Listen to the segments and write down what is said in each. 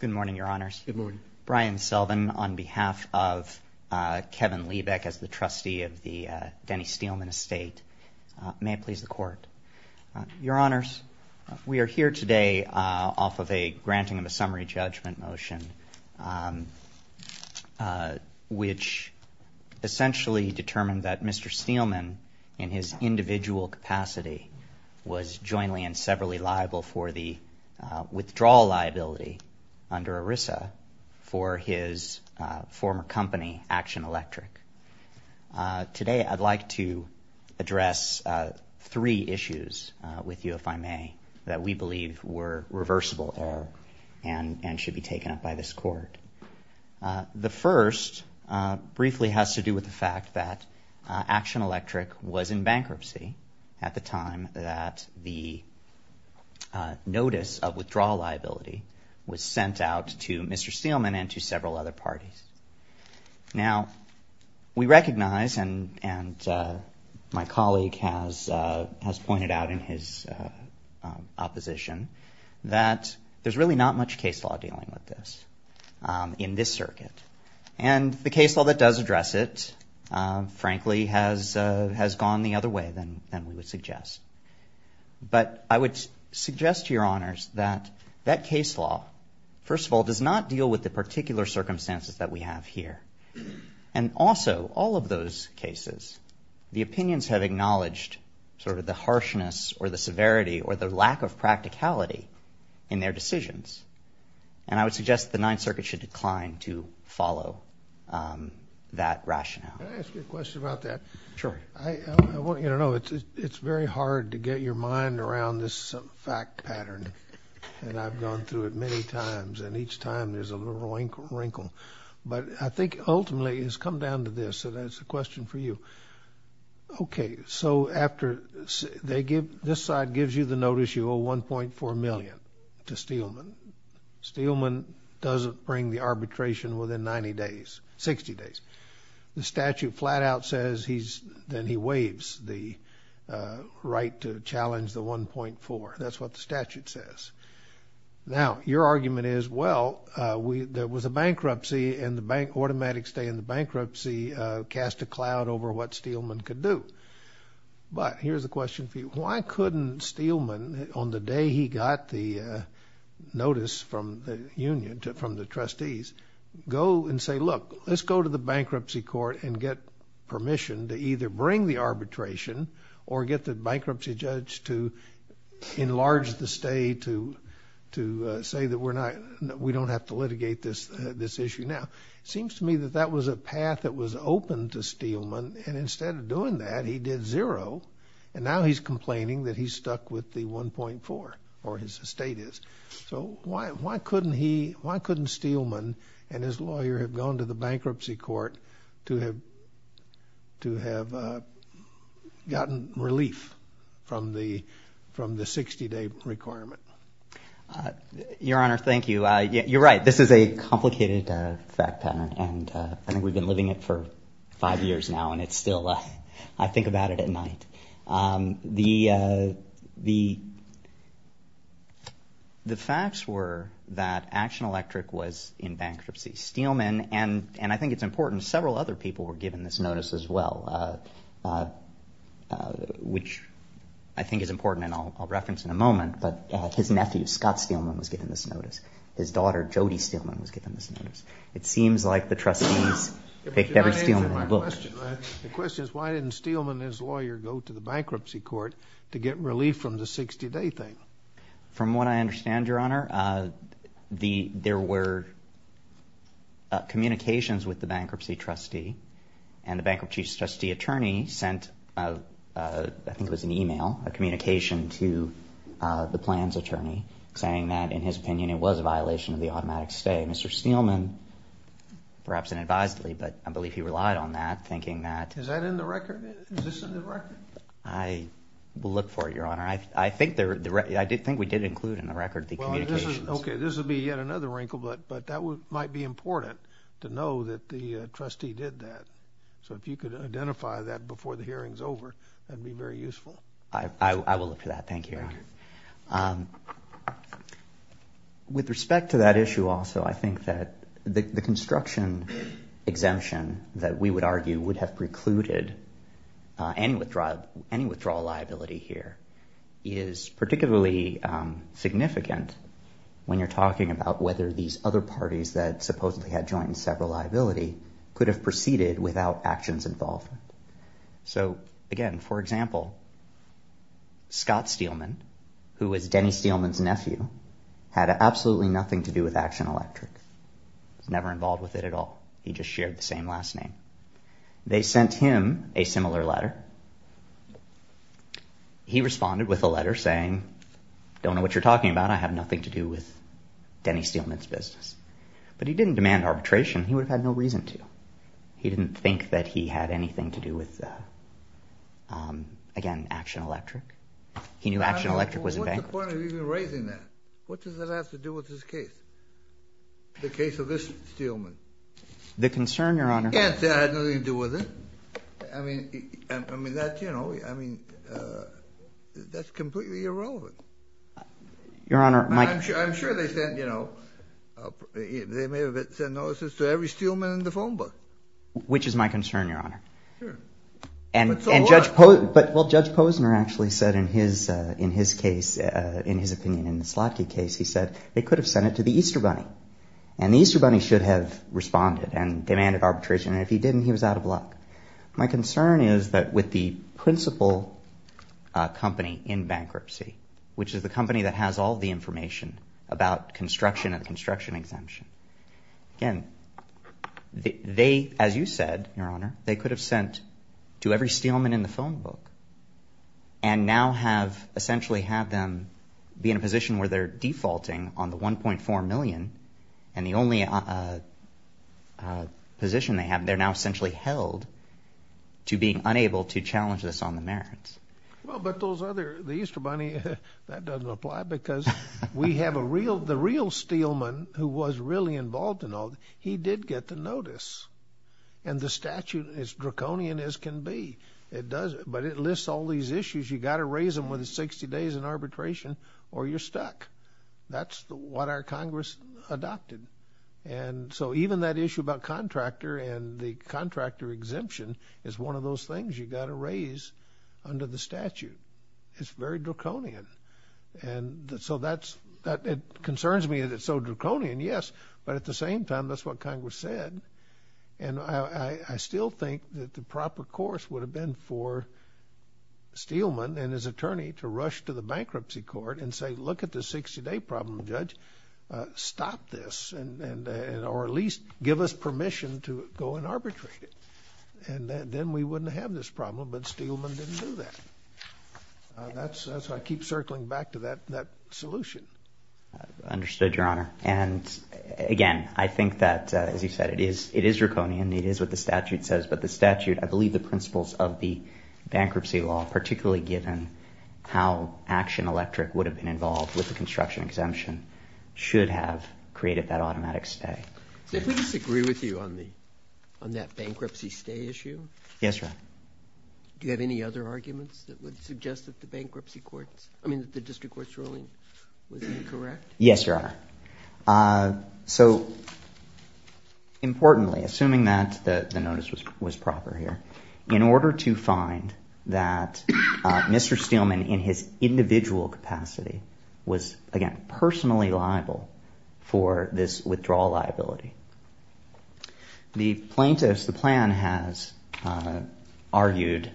Good morning, Your Honors. Good morning. Brian Selvin on behalf of Kevin Liebeck as the Trustee of the Denny Steelman Estate. May it please the Court. Your Honors, we are here today off of a granting of a summary judgment motion, which essentially determined that Mr. Steelman, in his individual capacity, was jointly and severally liable for the withdrawal liability under ERISA for his former company, Action Electric. Today I'd like to address three issues with you, if I may, that we believe were reversible error and should be taken up by this Court. The first briefly has to do with the fact that Action Electric was in bankruptcy at the time that the notice of withdrawal liability was sent out to Mr. Steelman and to several other parties. Now, we recognize, and my colleague has pointed out in his opposition, that there's really not much case law dealing with this in this circuit. And the case law that does address it, frankly, has gone the other way than we would suggest. But I would suggest to Your Honors that that case law, first of all, does not deal with the particular circumstances that we have here. And also, all of those cases, the opinions have acknowledged sort of the harshness or the severity or the lack of practicality in their decisions. And I would suggest the Ninth Circuit should decline to follow that rationale. Can I ask you a question about that? Sure. I want you to know it's very hard to get your mind around this fact pattern, and I've gone through it many times, and each time there's a little wrinkle. But I think ultimately it's come down to this, and it's a question for you. Okay. So this side gives you the notice you owe $1.4 million to Steelman. Steelman doesn't bring the arbitration within 90 days, 60 days. The statute flat out says then he waives the right to challenge the $1.4. That's what the statute says. Now, your argument is, well, there was a bankruptcy, and the automatic stay in the bankruptcy cast a cloud over what Steelman could do. But here's a question for you. Why couldn't Steelman, on the day he got the notice from the union, from the trustees, go and say, look, let's go to the bankruptcy court and get permission to either bring the arbitration or get the bankruptcy judge to enlarge the stay to say that we don't have to litigate this issue now? It seems to me that that was a path that was open to Steelman, and instead of doing that, he did zero, and now he's complaining that he's stuck with the $1.4, or his estate is. So why couldn't he, why couldn't Steelman and his lawyer have gone to the bankruptcy court to have gotten relief from the 60-day requirement? Your Honor, thank you. You're right. This is a complicated fact pattern, and I think we've been living it for five years now, and it's still, I think about it at night. The facts were that Action Electric was in bankruptcy. Steelman, and I think it's important, several other people were given this notice as well, which I think is important and I'll reference in a moment, but his nephew, Scott Steelman, was given this notice. His daughter, Jody Steelman, was given this notice. It seems like the trustees picked every Steelman in the book. The question is why didn't Steelman and his lawyer go to the bankruptcy court to get relief from the 60-day thing? From what I understand, Your Honor, there were communications with the bankruptcy trustee, and the bankruptcy trustee attorney sent, I think it was an email, a communication to the plans attorney, saying that, in his opinion, it was a violation of the automatic stay. Mr. Steelman, perhaps unadvisedly, but I believe he relied on that, thinking that... Is that in the record? Is this in the record? I will look for it, Your Honor. I think we did include in the record the communications. Okay. This will be yet another wrinkle, but that might be important to know that the trustee did that. So if you could identify that before the hearing is over, that would be very useful. I will look for that. Thank you, Your Honor. Thank you. With respect to that issue also, I think that the construction exemption that we would argue would have precluded any withdrawal liability here is particularly significant when you're talking about whether these other parties that supposedly had joined several liability could have proceeded without actions involved. Again, for example, Scott Steelman, who was Denny Steelman's nephew, had absolutely nothing to do with Action Electric. He was never involved with it at all. He just shared the same last name. They sent him a similar letter. He responded with a letter saying, I don't know what you're talking about. I have nothing to do with Denny Steelman's business. But he didn't demand arbitration. He would have had no reason to. He didn't think that he had anything to do with, again, Action Electric. He knew Action Electric was a bank. What's the point of even raising that? What does that have to do with this case, the case of this Steelman? The concern, Your Honor— He can't say I had nothing to do with it. I mean, that's completely irrelevant. Your Honor, Mike— I'm sure they sent—they may have sent notices to every Steelman in the phone book. Which is my concern, Your Honor. Sure. But so what? But Judge Posner actually said in his case, in his opinion, in the Slotkin case, he said they could have sent it to the Easter Bunny, and the Easter Bunny should have responded and demanded arbitration, and if he didn't, he was out of luck. My concern is that with the principal company in bankruptcy, which is the company that has all the information about construction and construction exemption, again, they, as you said, Your Honor, they could have sent to every Steelman in the phone book and now have essentially had them be in a position where they're defaulting on the $1.4 million, and the only position they have, they're now essentially held to being unable to challenge this on the merits. Well, but those other—the Easter Bunny, that doesn't apply, because we have a real—the real Steelman who was really involved in all this, he did get the notice. And the statute is draconian as can be. It does—but it lists all these issues. You've got to raise them within 60 days in arbitration or you're stuck. That's what our Congress adopted. And so even that issue about contractor and the contractor exemption is one of those things you've got to raise under the statute. It's very draconian. And so that's—it concerns me that it's so draconian, yes, but at the same time, that's what Congress said. And I still think that the proper course would have been for Steelman and his attorney to rush to the bankruptcy court and say, Look at this 60-day problem, Judge, stop this, or at least give us permission to go and arbitrate it. And then we wouldn't have this problem, but Steelman didn't do that. That's why I keep circling back to that solution. Understood, Your Honor. And again, I think that, as you said, it is draconian, it is what the statute says, but the statute—I believe the principles of the bankruptcy law, particularly given how Action Electric would have been involved with the construction exemption, should have created that automatic stay. I disagree with you on that bankruptcy stay issue. Yes, Your Honor. Do you have any other arguments that would suggest that the bankruptcy courts— I mean that the district court's ruling was incorrect? Yes, Your Honor. So, importantly, assuming that the notice was proper here, in order to find that Mr. Steelman in his individual capacity was, again, subject to this withdrawal liability, the plaintiffs, the plan, has argued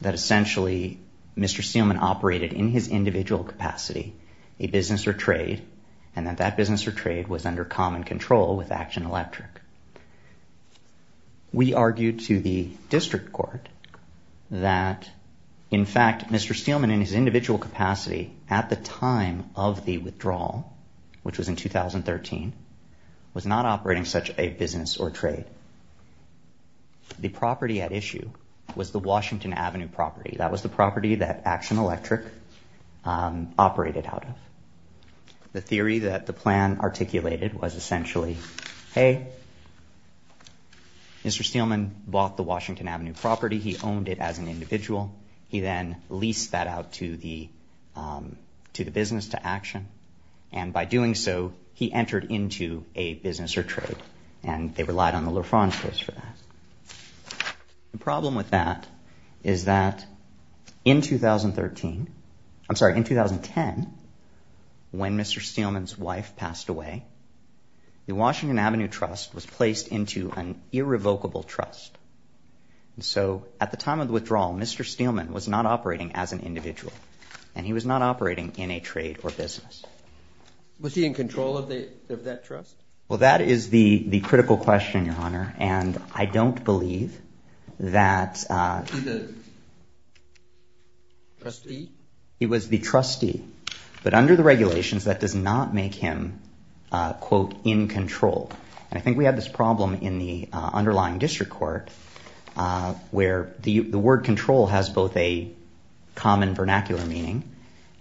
that essentially Mr. Steelman operated in his individual capacity, a business or trade, and that that business or trade was under common control with Action Electric. We argued to the district court that, in fact, Mr. Steelman in his individual capacity at the time of the withdrawal, which was in 2013, was not operating such a business or trade. The property at issue was the Washington Avenue property. That was the property that Action Electric operated out of. The theory that the plan articulated was essentially, hey, Mr. Steelman bought the Washington Avenue property. He owned it as an individual. He then leased that out to the business, to Action. And by doing so, he entered into a business or trade, and they relied on the LaFrance case for that. The problem with that is that in 2013—I'm sorry, in 2010, when Mr. Steelman's wife passed away, the Washington Avenue trust was placed into an irrevocable trust. So at the time of the withdrawal, Mr. Steelman was not operating as an individual, and he was not operating in a trade or business. Was he in control of that trust? Well, that is the critical question, Your Honor, and I don't believe that— He was the trustee? He was the trustee. But under the regulations, that does not make him, quote, in control. And I think we had this problem in the underlying district court, where the word control has both a common vernacular meaning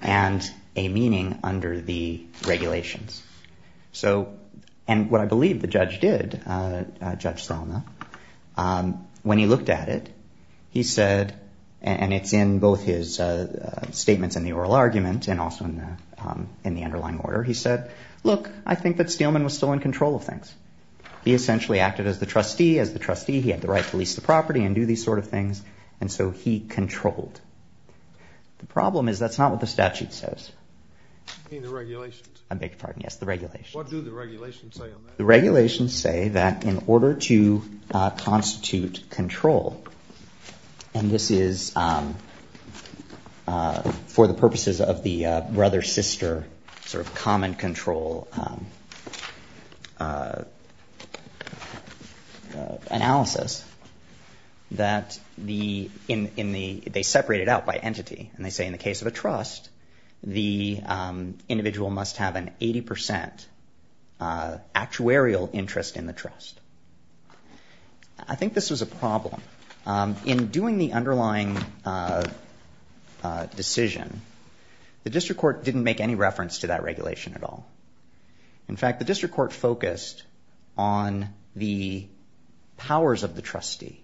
and a meaning under the regulations. And what I believe the judge did, Judge Selma, when he looked at it, he said— and it's in both his statements in the oral argument and also in the underlying order— he said, look, I think that Steelman was still in control of things. He essentially acted as the trustee. As the trustee, he had the right to lease the property and do these sort of things, and so he controlled. The problem is that's not what the statute says. You mean the regulations? I beg your pardon, yes, the regulations. What do the regulations say on that? The regulations say that in order to constitute control, and this is for the purposes of the brother-sister sort of common control analysis, that they separate it out by entity, and they say in the case of a trust, the individual must have an 80% actuarial interest in the trust. I think this was a problem. In doing the underlying decision, the district court didn't make any reference to that regulation at all. In fact, the district court focused on the powers of the trustee.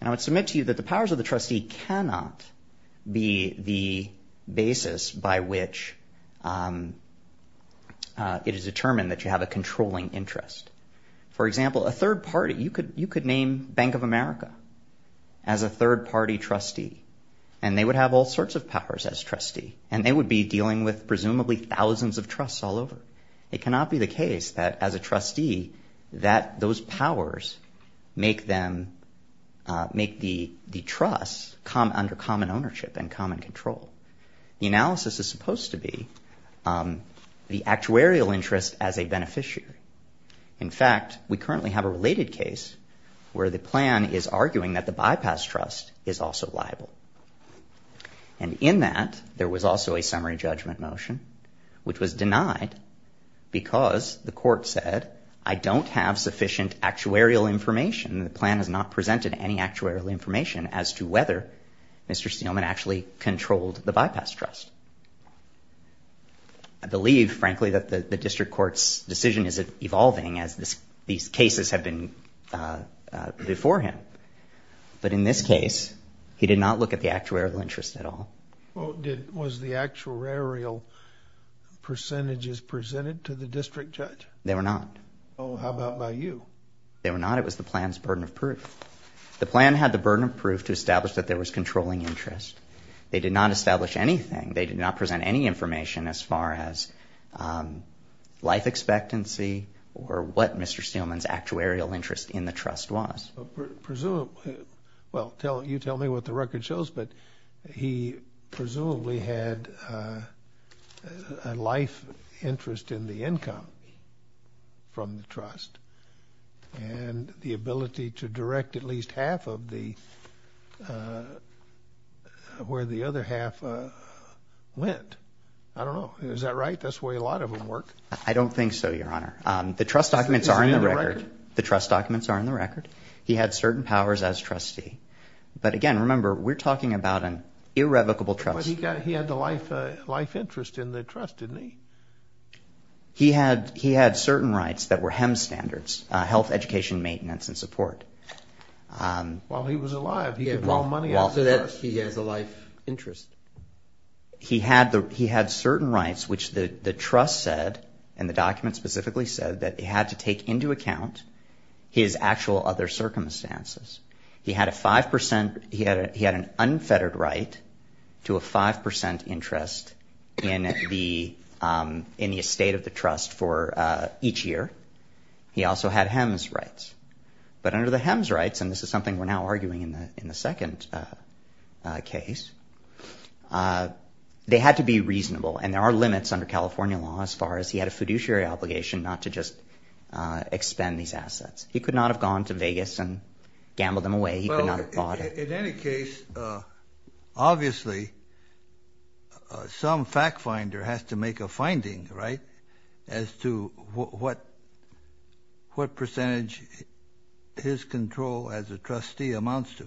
And I would submit to you that the powers of the trustee cannot be the basis by which it is determined that you have a controlling interest. For example, a third party, you could name Bank of America as a third party trustee, and they would have all sorts of powers as trustee, and they would be dealing with presumably thousands of trusts all over. It cannot be the case that as a trustee that those powers make the trust come under common ownership and common control. The analysis is supposed to be the actuarial interest as a beneficiary. In fact, we currently have a related case where the plan is arguing that the bypass trust is also liable. And in that, there was also a summary judgment motion, which was denied because the court said, I don't have sufficient actuarial information. The plan has not presented any actuarial information as to whether Mr. Steelman actually controlled the bypass trust. I believe, frankly, that the district court's decision is evolving as these cases have been before him. But in this case, he did not look at the actuarial interest at all. Was the actuarial percentages presented to the district judge? They were not. How about by you? They were not. It was the plan's burden of proof. The plan had the burden of proof to establish that there was controlling interest. They did not establish anything. They did not present any information as far as life expectancy or what Mr. Steelman's actuarial interest in the trust was. Presumably, well, you tell me what the record shows, but he presumably had a life interest in the income from the trust and the ability to direct at least half of where the other half went. I don't know. Is that right? That's the way a lot of them work. I don't think so, Your Honor. The trust documents are in the record. The trust documents are in the record. He had certain powers as trustee. But again, remember, we're talking about an irrevocable trust. But he had the life interest in the trust, didn't he? He had certain rights that were HEMS standards, health, education, maintenance, and support. Well, he was alive. He could borrow money out of the trust. He has a life interest. He had certain rights, which the trust said, and the documents specifically said, that he had to take into account his actual other circumstances. He had an unfettered right to a 5% interest in the estate of the trust for each year. He also had HEMS rights. But under the HEMS rights, and this is something we're now arguing in the second case, they had to be reasonable, and there are limits under California law as far as he had a fiduciary obligation not to just expend these assets. He could not have gone to Vegas and gambled them away. He could not have bought them. In any case, obviously, some fact finder has to make a finding, right, as to what percentage his control as a trustee amounts to.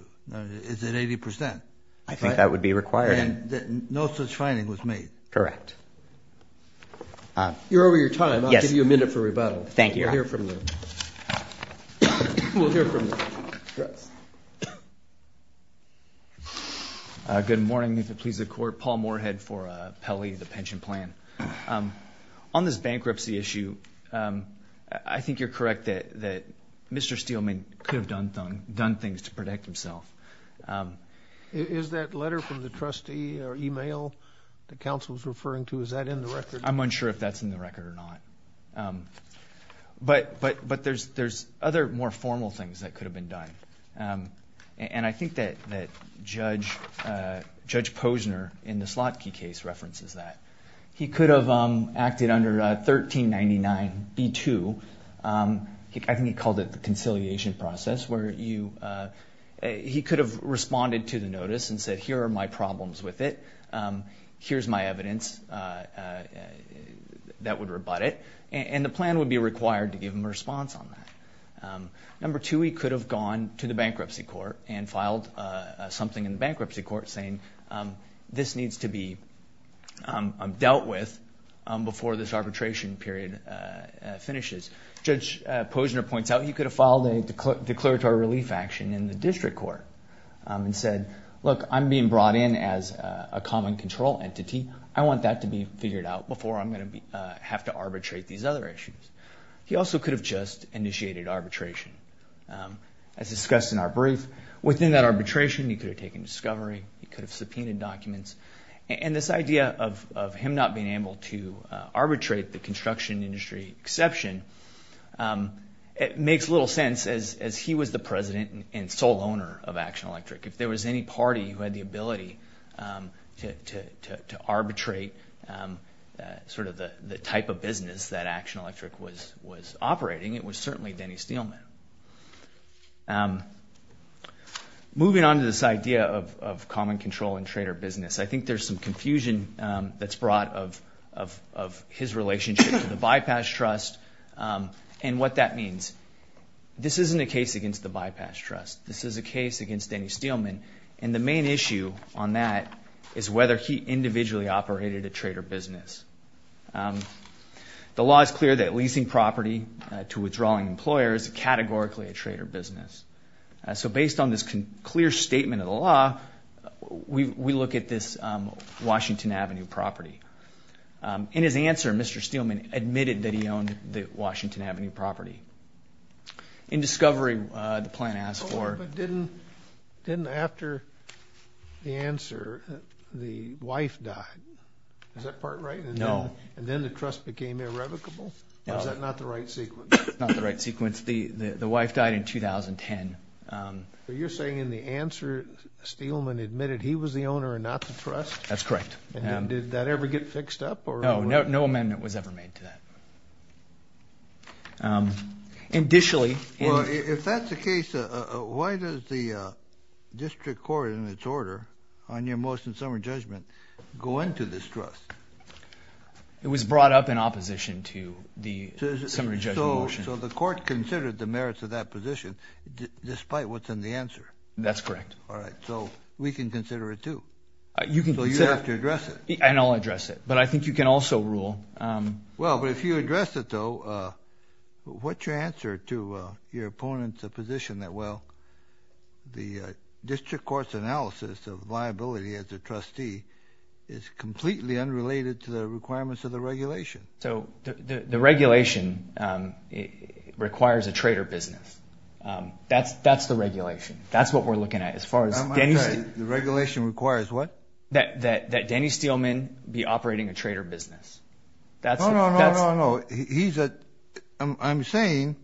Is it 80%? I think that would be required. And no such finding was made. Correct. You're over your time. I'll give you a minute for rebuttal. Thank you. We'll hear from you. We'll hear from you. Yes. Good morning. If it pleases the Court, Paul Moorhead for Pelley, the pension plan. On this bankruptcy issue, I think you're correct that Mr. Steelman could have done things to protect himself. Is that letter from the trustee or e-mail the counsel is referring to, is that in the record? I'm unsure if that's in the record or not. But there's other more formal things that could have been done. And I think that Judge Posner in the Slotkey case references that. He could have acted under 1399b-2. I think he called it the conciliation process where he could have responded to the notice and said, here are my problems with it. Here's my evidence that would rebut it. And the plan would be required to give him a response on that. Number two, he could have gone to the bankruptcy court and filed something in the bankruptcy court saying, this needs to be dealt with before this arbitration period finishes. Judge Posner points out he could have filed a declaratory relief action in the district court and said, look, I'm being brought in as a common control entity. I want that to be figured out before I'm going to have to arbitrate these other issues. He also could have just initiated arbitration. As discussed in our brief, within that arbitration, he could have taken discovery. He could have subpoenaed documents. And this idea of him not being able to arbitrate the construction industry exception, it makes little sense as he was the president and sole owner of Action Electric. If there was any party who had the ability to arbitrate sort of the type of business that Action Electric was operating, it was certainly Denny Steelman. Moving on to this idea of common control and trader business, I think there's some confusion that's brought of his relationship to the Bypass Trust and what that means. This isn't a case against the Bypass Trust. This is a case against Denny Steelman. And the main issue on that is whether he individually operated a trader business. The law is clear that leasing property to withdrawing employers is categorically a trader business. So based on this clear statement of the law, we look at this Washington Avenue property. In his answer, Mr. Steelman admitted that he owned the Washington Avenue property. In discovery, the plan asked for... But didn't after the answer, the wife died. Is that part right? No. And then the trust became irrevocable? No. Or is that not the right sequence? Not the right sequence. The wife died in 2010. But you're saying in the answer, Steelman admitted he was the owner and not the trust? That's correct. And did that ever get fixed up? No, no amendment was ever made to that. Well, if that's the case, why does the district court in its order on your motion to summary judgment go into this trust? It was brought up in opposition to the summary judgment motion. So the court considered the merits of that position despite what's in the answer? That's correct. All right. So we can consider it too? You can consider it. So you have to address it? And I'll address it. But I think you can also rule... Well, but if you address it though, what's your answer to your opponent's position that, well, the district court's analysis of liability as a trustee is completely unrelated to the requirements of the regulation? So the regulation requires a trader business. That's the regulation. That's what we're looking at as far as... I'm sorry. The regulation requires what? That Denny Steelman be operating a trader business. That's... No, no, no, no, no. He's a... I'm saying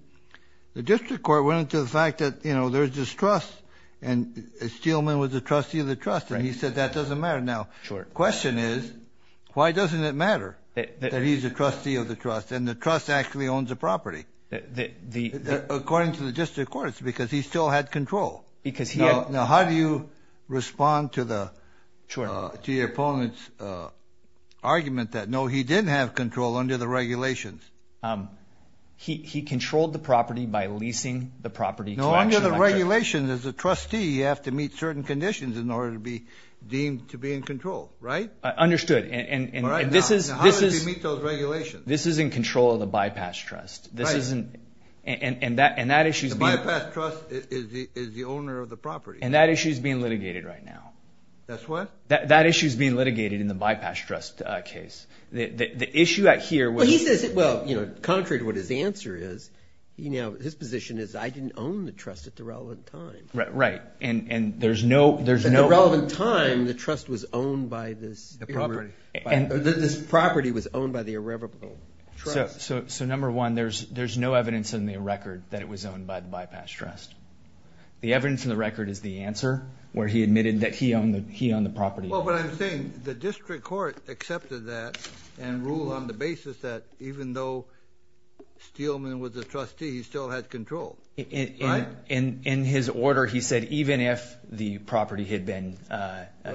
the district court went into the fact that, you know, there's this trust and Steelman was a trustee of the trust and he said that doesn't matter now. Sure. Question is, why doesn't it matter that he's a trustee of the trust and the trust actually owns a property? The... According to the district court, it's because he still had control. Because he had... He did have control under the regulations. He controlled the property by leasing the property to... No, under the regulations, as a trustee, you have to meet certain conditions in order to be deemed to be in control. Right? Understood. And this is... All right. Now, how does he meet those regulations? This is in control of the bypass trust. Right. This isn't... And that issue's being... The bypass trust is the owner of the property. And that issue's being litigated right now. That's what? That issue's being litigated in the bypass trust case. The issue out here was... Well, he says... Well, you know, contrary to what his answer is, you know, his position is I didn't own the trust at the relevant time. Right. And there's no... At the relevant time, the trust was owned by this... The property. This property was owned by the irrevocable trust. So, number one, there's no evidence in the record that it was owned by the bypass trust. The evidence in the record is the answer, where he admitted that he owned the property. Well, but I'm saying the district court accepted that and ruled on the basis that even though Steelman was a trustee, he still had control. Right? In his order, he said even if the property had been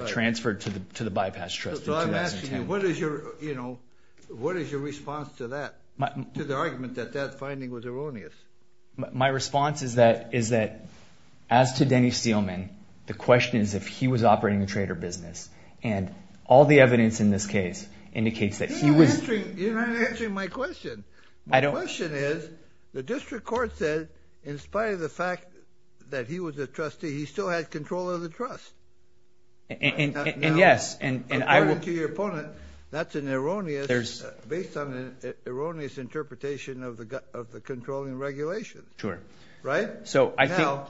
transferred to the bypass trust... So, I'm asking you, what is your, you know, what is your response to that? To the argument that that finding was erroneous? My response is that as to Denny Steelman, the question is if he was operating a trader business. And all the evidence in this case indicates that he was... You're not answering my question. My question is the district court said in spite of the fact that he was a trustee, he still had control of the trust. And yes, and I will... Sure. Right? So, I think... Now,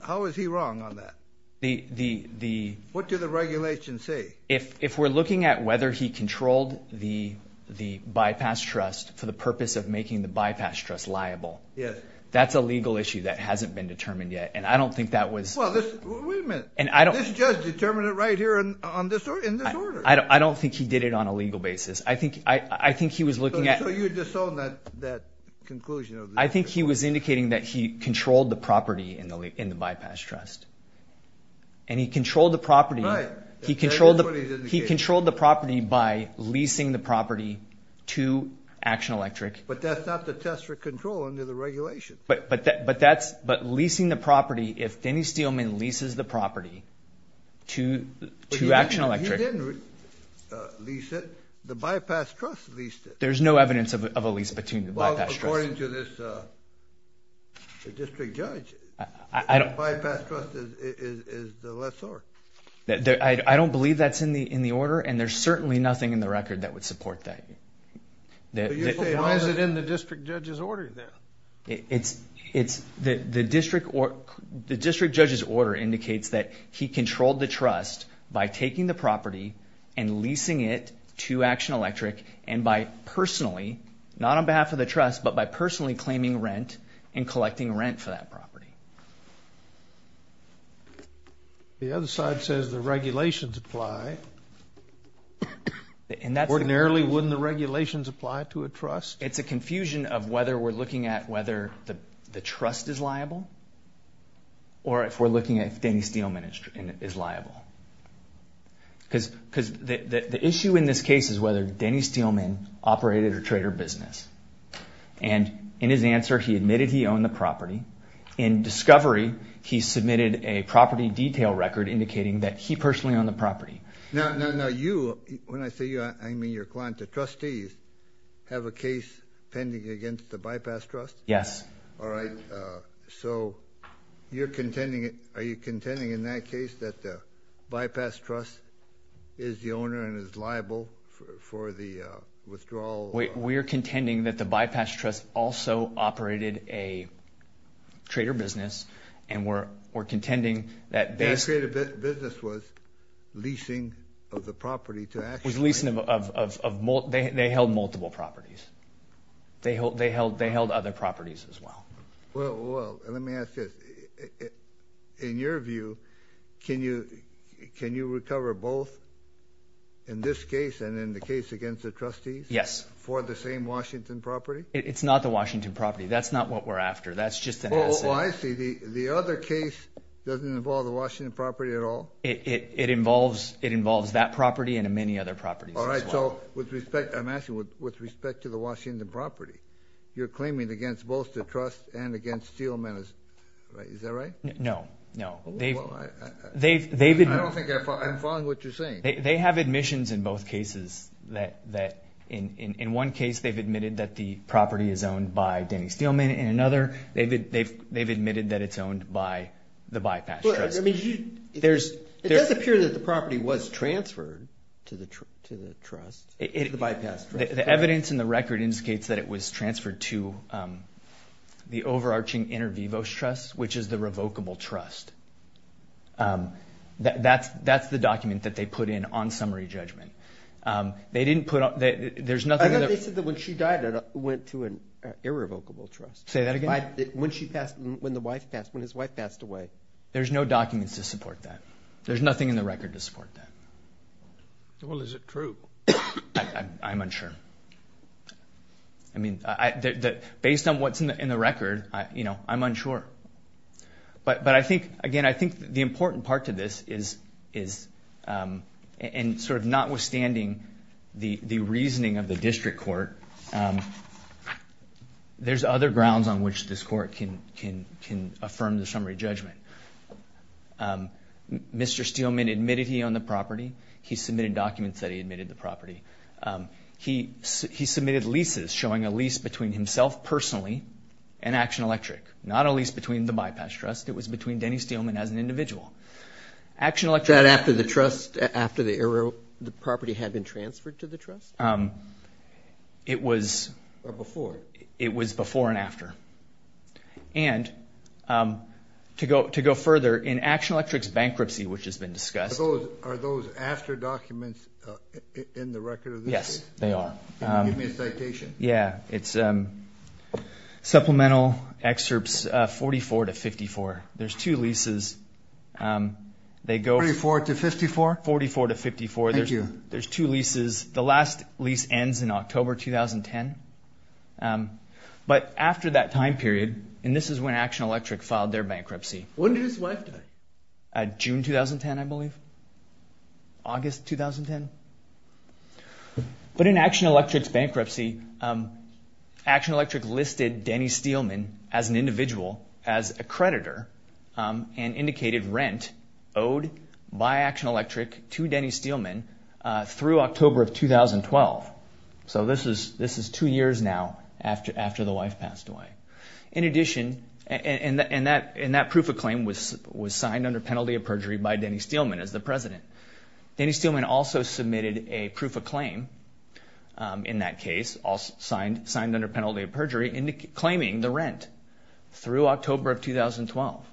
how is he wrong on that? The... What do the regulations say? If we're looking at whether he controlled the bypass trust for the purpose of making the bypass trust liable... Yes. That's a legal issue that hasn't been determined yet. And I don't think that was... Well, wait a minute. And I don't... This judge determined it right here in this order. I don't think he did it on a legal basis. I think he was looking at... So, you disown that conclusion? I think he was indicating that he controlled the property in the bypass trust. And he controlled the property... Right. He controlled the property by leasing the property to Action Electric. But that's not the test for control under the regulations. But that's... But leasing the property, if Denny Steelman leases the property to Action Electric... He didn't lease it. The bypass trust leased it. There's no evidence of a lease between the bypass trust. According to this district judge, the bypass trust is the lessor. I don't believe that's in the order. And there's certainly nothing in the record that would support that. Why is it in the district judge's order, then? The district judge's order indicates that he controlled the trust by taking the property and leasing it to Action Electric and by personally, not on behalf of the trust, but by personally claiming rent and collecting rent for that property. The other side says the regulations apply. Ordinarily, wouldn't the regulations apply to a trust? It's a confusion of whether we're looking at whether the trust is liable or if we're looking at if Denny Steelman is liable. Because the issue in this case is whether Denny Steelman operated a trade or business. And in his answer, he admitted he owned the property. In discovery, he submitted a property detail record indicating that he personally owned the property. Now you, when I say you, I mean your client, the trustees, have a case pending against the bypass trust? Yes. All right. So you're contending, are you contending in that case that the bypass trust is the owner and is liable for the withdrawal? We're contending that the bypass trust also operated a trade or business, and we're contending that they The trade or business was leasing of the property to Action Electric. They held multiple properties. They held other properties as well. Well, let me ask you this. In your view, can you recover both in this case and in the case against the trustees? Yes. For the same Washington property? It's not the Washington property. That's not what we're after. That's just an essay. Oh, I see. The other case doesn't involve the Washington property at all? It involves that property and many other properties as well. I'm asking with respect to the Washington property. You're claiming against both the trust and against Steelman. Is that right? No. No. I don't think I'm following what you're saying. They have admissions in both cases. In one case, they've admitted that the property is owned by Denny Steelman. In another, they've admitted that it's owned by the bypass trust. It does appear that the property was transferred to the trust, to the bypass trust. The evidence in the record indicates that it was transferred to the overarching Inter Vivos Trust, which is the revocable trust. That's the document that they put in on summary judgment. I thought they said that when she died, it went to an irrevocable trust. Say that again? When the wife passed, when his wife passed away. There's no documents to support that. There's nothing in the record to support that. Well, is it true? I'm unsure. I mean, based on what's in the record, I'm unsure. But I think, again, I think the important part to this is in sort of notwithstanding the reasoning of the district court, there's other grounds on which this court can affirm the summary judgment. Mr. Steelman admitted he owned the property. He submitted documents that he admitted the property. He submitted leases showing a lease between himself personally and Action Electric, not a lease between the bypass trust. It was between Denny Steelman as an individual. Action Electric. That after the trust, after the property had been transferred to the trust? It was. Before. It was before and after. And to go further, in Action Electric's bankruptcy, which has been discussed. Are those after documents in the record of this case? Yes, they are. Can you give me a citation? Yeah, it's supplemental excerpts 44 to 54. There's two leases. They go. 44 to 54? 44 to 54. Thank you. There's two leases. The last lease ends in October 2010. But after that time period, and this is when Action Electric filed their bankruptcy. When did his wife die? June 2010, I believe. August 2010. But in Action Electric's bankruptcy, Action Electric listed Denny Steelman as an individual, as a creditor, and indicated rent owed by Action Electric to Denny Steelman through October of 2012. So this is two years now after the wife passed away. In addition, and that proof of claim was signed under penalty of perjury by Denny Steelman as the president. Denny Steelman also submitted a proof of claim in that case, signed under penalty of perjury, claiming the rent through October of 2012.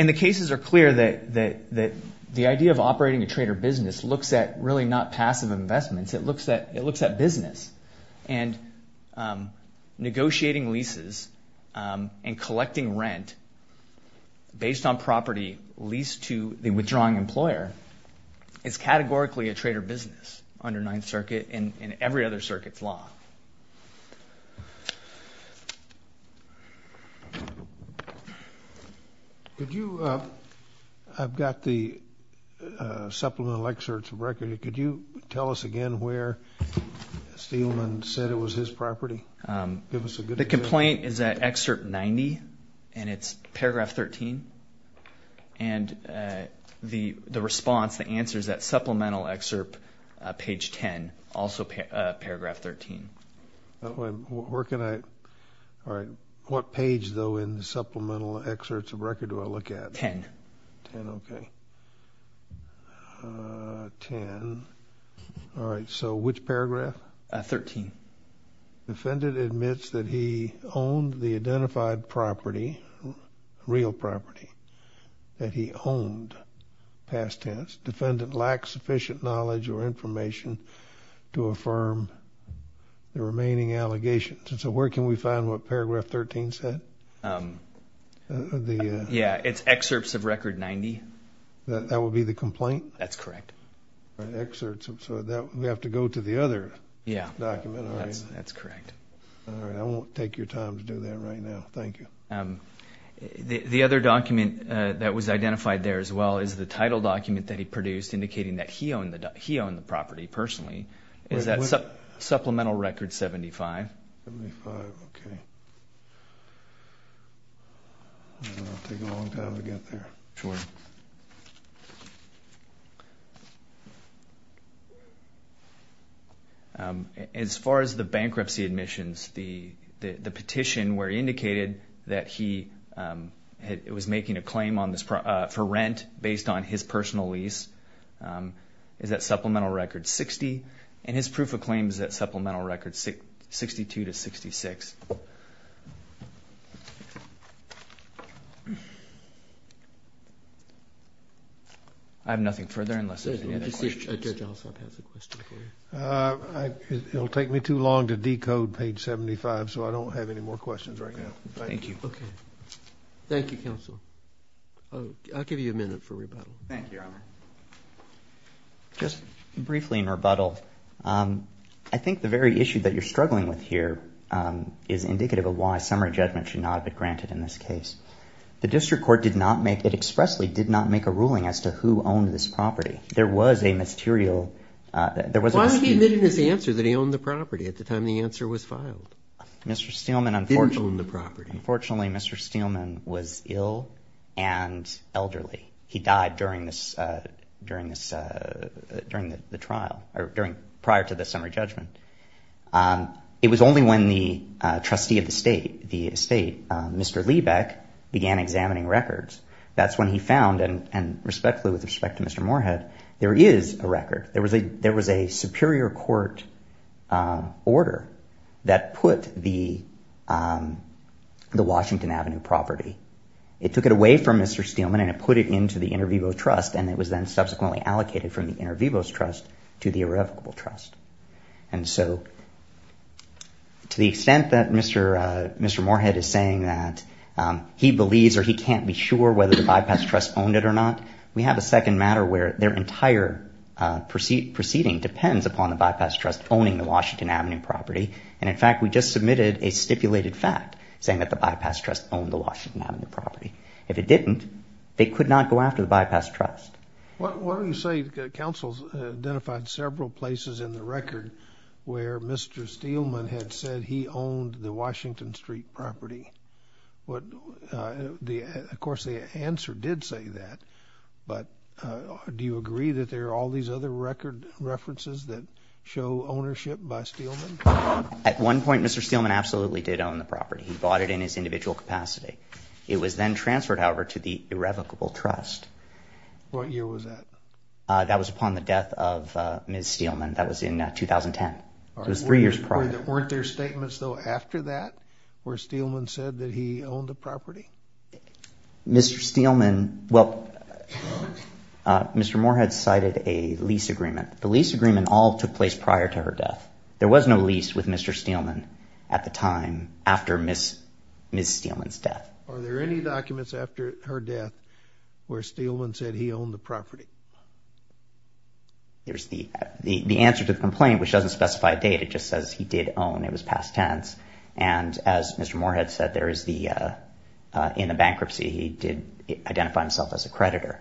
And the cases are clear that the idea of operating a trader business looks at really not passive investments. It looks at business. And negotiating leases and collecting rent based on property leased to the withdrawing employer is categorically a trader business under Ninth Circuit and every other circuit's law. I've got the supplemental excerpts of record. Could you tell us again where Steelman said it was his property? The complaint is at excerpt 90, and it's paragraph 13. And the response, the answer is that supplemental excerpt page 10, also paragraph 13. Where can I? All right. What page, though, in the supplemental excerpts of record do I look at? Ten. Ten, okay. Ten. All right. So which paragraph? 13. Defendant admits that he owned the identified property, real property that he owned past tense. Defendant lacks sufficient knowledge or information to affirm the remaining allegations. And so where can we find what paragraph 13 said? Yeah, it's excerpts of record 90. That would be the complaint? That's correct. Excerpts, so we have to go to the other document? Yeah, that's correct. All right. I won't take your time to do that right now. Thank you. The other document that was identified there as well is the title document that he produced indicating that he owned the property personally. Is that supplemental record 75? 75, okay. It's going to take a long time to get there. Sure. As far as the bankruptcy admissions, the petition where he indicated that he was making a claim for rent based on his personal lease, is that supplemental record 60? And his proof of claim is that supplemental record 62 to 66. I have nothing further unless there's any other questions. Judge Alsop has a question for you. It'll take me too long to decode page 75, so I don't have any more questions right now. Thank you. Thank you, counsel. I'll give you a minute for rebuttal. Thank you, Your Honor. Just briefly in rebuttal, I think the very issue that you're struggling with here is indicative of why summary judgment should not be granted in this case. The district court expressly did not make a ruling as to who owned this property. There was a material. Why did he admit in his answer that he owned the property at the time the answer was filed? He didn't own the property. Unfortunately, Mr. Steelman was ill and elderly. He died prior to the summary judgment. It was only when the trustee of the estate, Mr. Liebeck, began examining records. That's when he found, and respectfully with respect to Mr. Moorhead, there is a record. There was a superior court order that put the Washington Avenue property. It took it away from Mr. Steelman and it put it into the Intervivo Trust, and it was then subsequently allocated from the Intervivo Trust to the Irrevocable Trust. And so to the extent that Mr. Moorhead is saying that he believes or he can't be sure whether the Bypass Trust owned it or not, we have a second matter where their entire proceeding depends upon the Bypass Trust owning the Washington Avenue property. And, in fact, we just submitted a stipulated fact saying that the Bypass Trust owned the Washington Avenue property. If it didn't, they could not go after the Bypass Trust. Why don't you say counsels identified several places in the record where Mr. Steelman had said he owned the Washington Street property? Of course, the answer did say that, but do you agree that there are all these other record references that show ownership by Steelman? At one point, Mr. Steelman absolutely did own the property. He bought it in his individual capacity. It was then transferred, however, to the Irrevocable Trust. What year was that? That was upon the death of Ms. Steelman. That was in 2010, so it was three years prior. Weren't there statements, though, after that where Steelman said that he owned the property? Mr. Steelman, well, Mr. Moorhead cited a lease agreement. The lease agreement all took place prior to her death. There was no lease with Mr. Steelman at the time after Ms. Steelman's death. Are there any documents after her death where Steelman said he owned the property? There's the answer to the complaint, which doesn't specify a date. It just says he did own. It was past tense. And as Mr. Moorhead said, in the bankruptcy, he did identify himself as a creditor.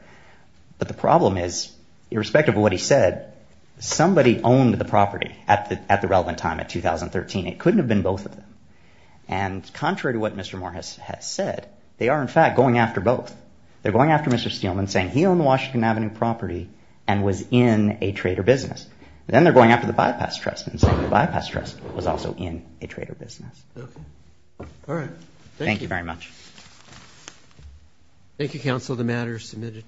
But the problem is, irrespective of what he said, somebody owned the property at the relevant time, at 2013. It couldn't have been both of them. And contrary to what Mr. Moorhead has said, they are, in fact, going after both. They're going after Mr. Steelman, saying he owned the Washington Avenue property and was in a trader business. Then they're going after the Bypass Trust and saying the Bypass Trust was also in a trader business. Okay. All right. Thank you. Thank you very much. Thank you, counsel. The matter is submitted.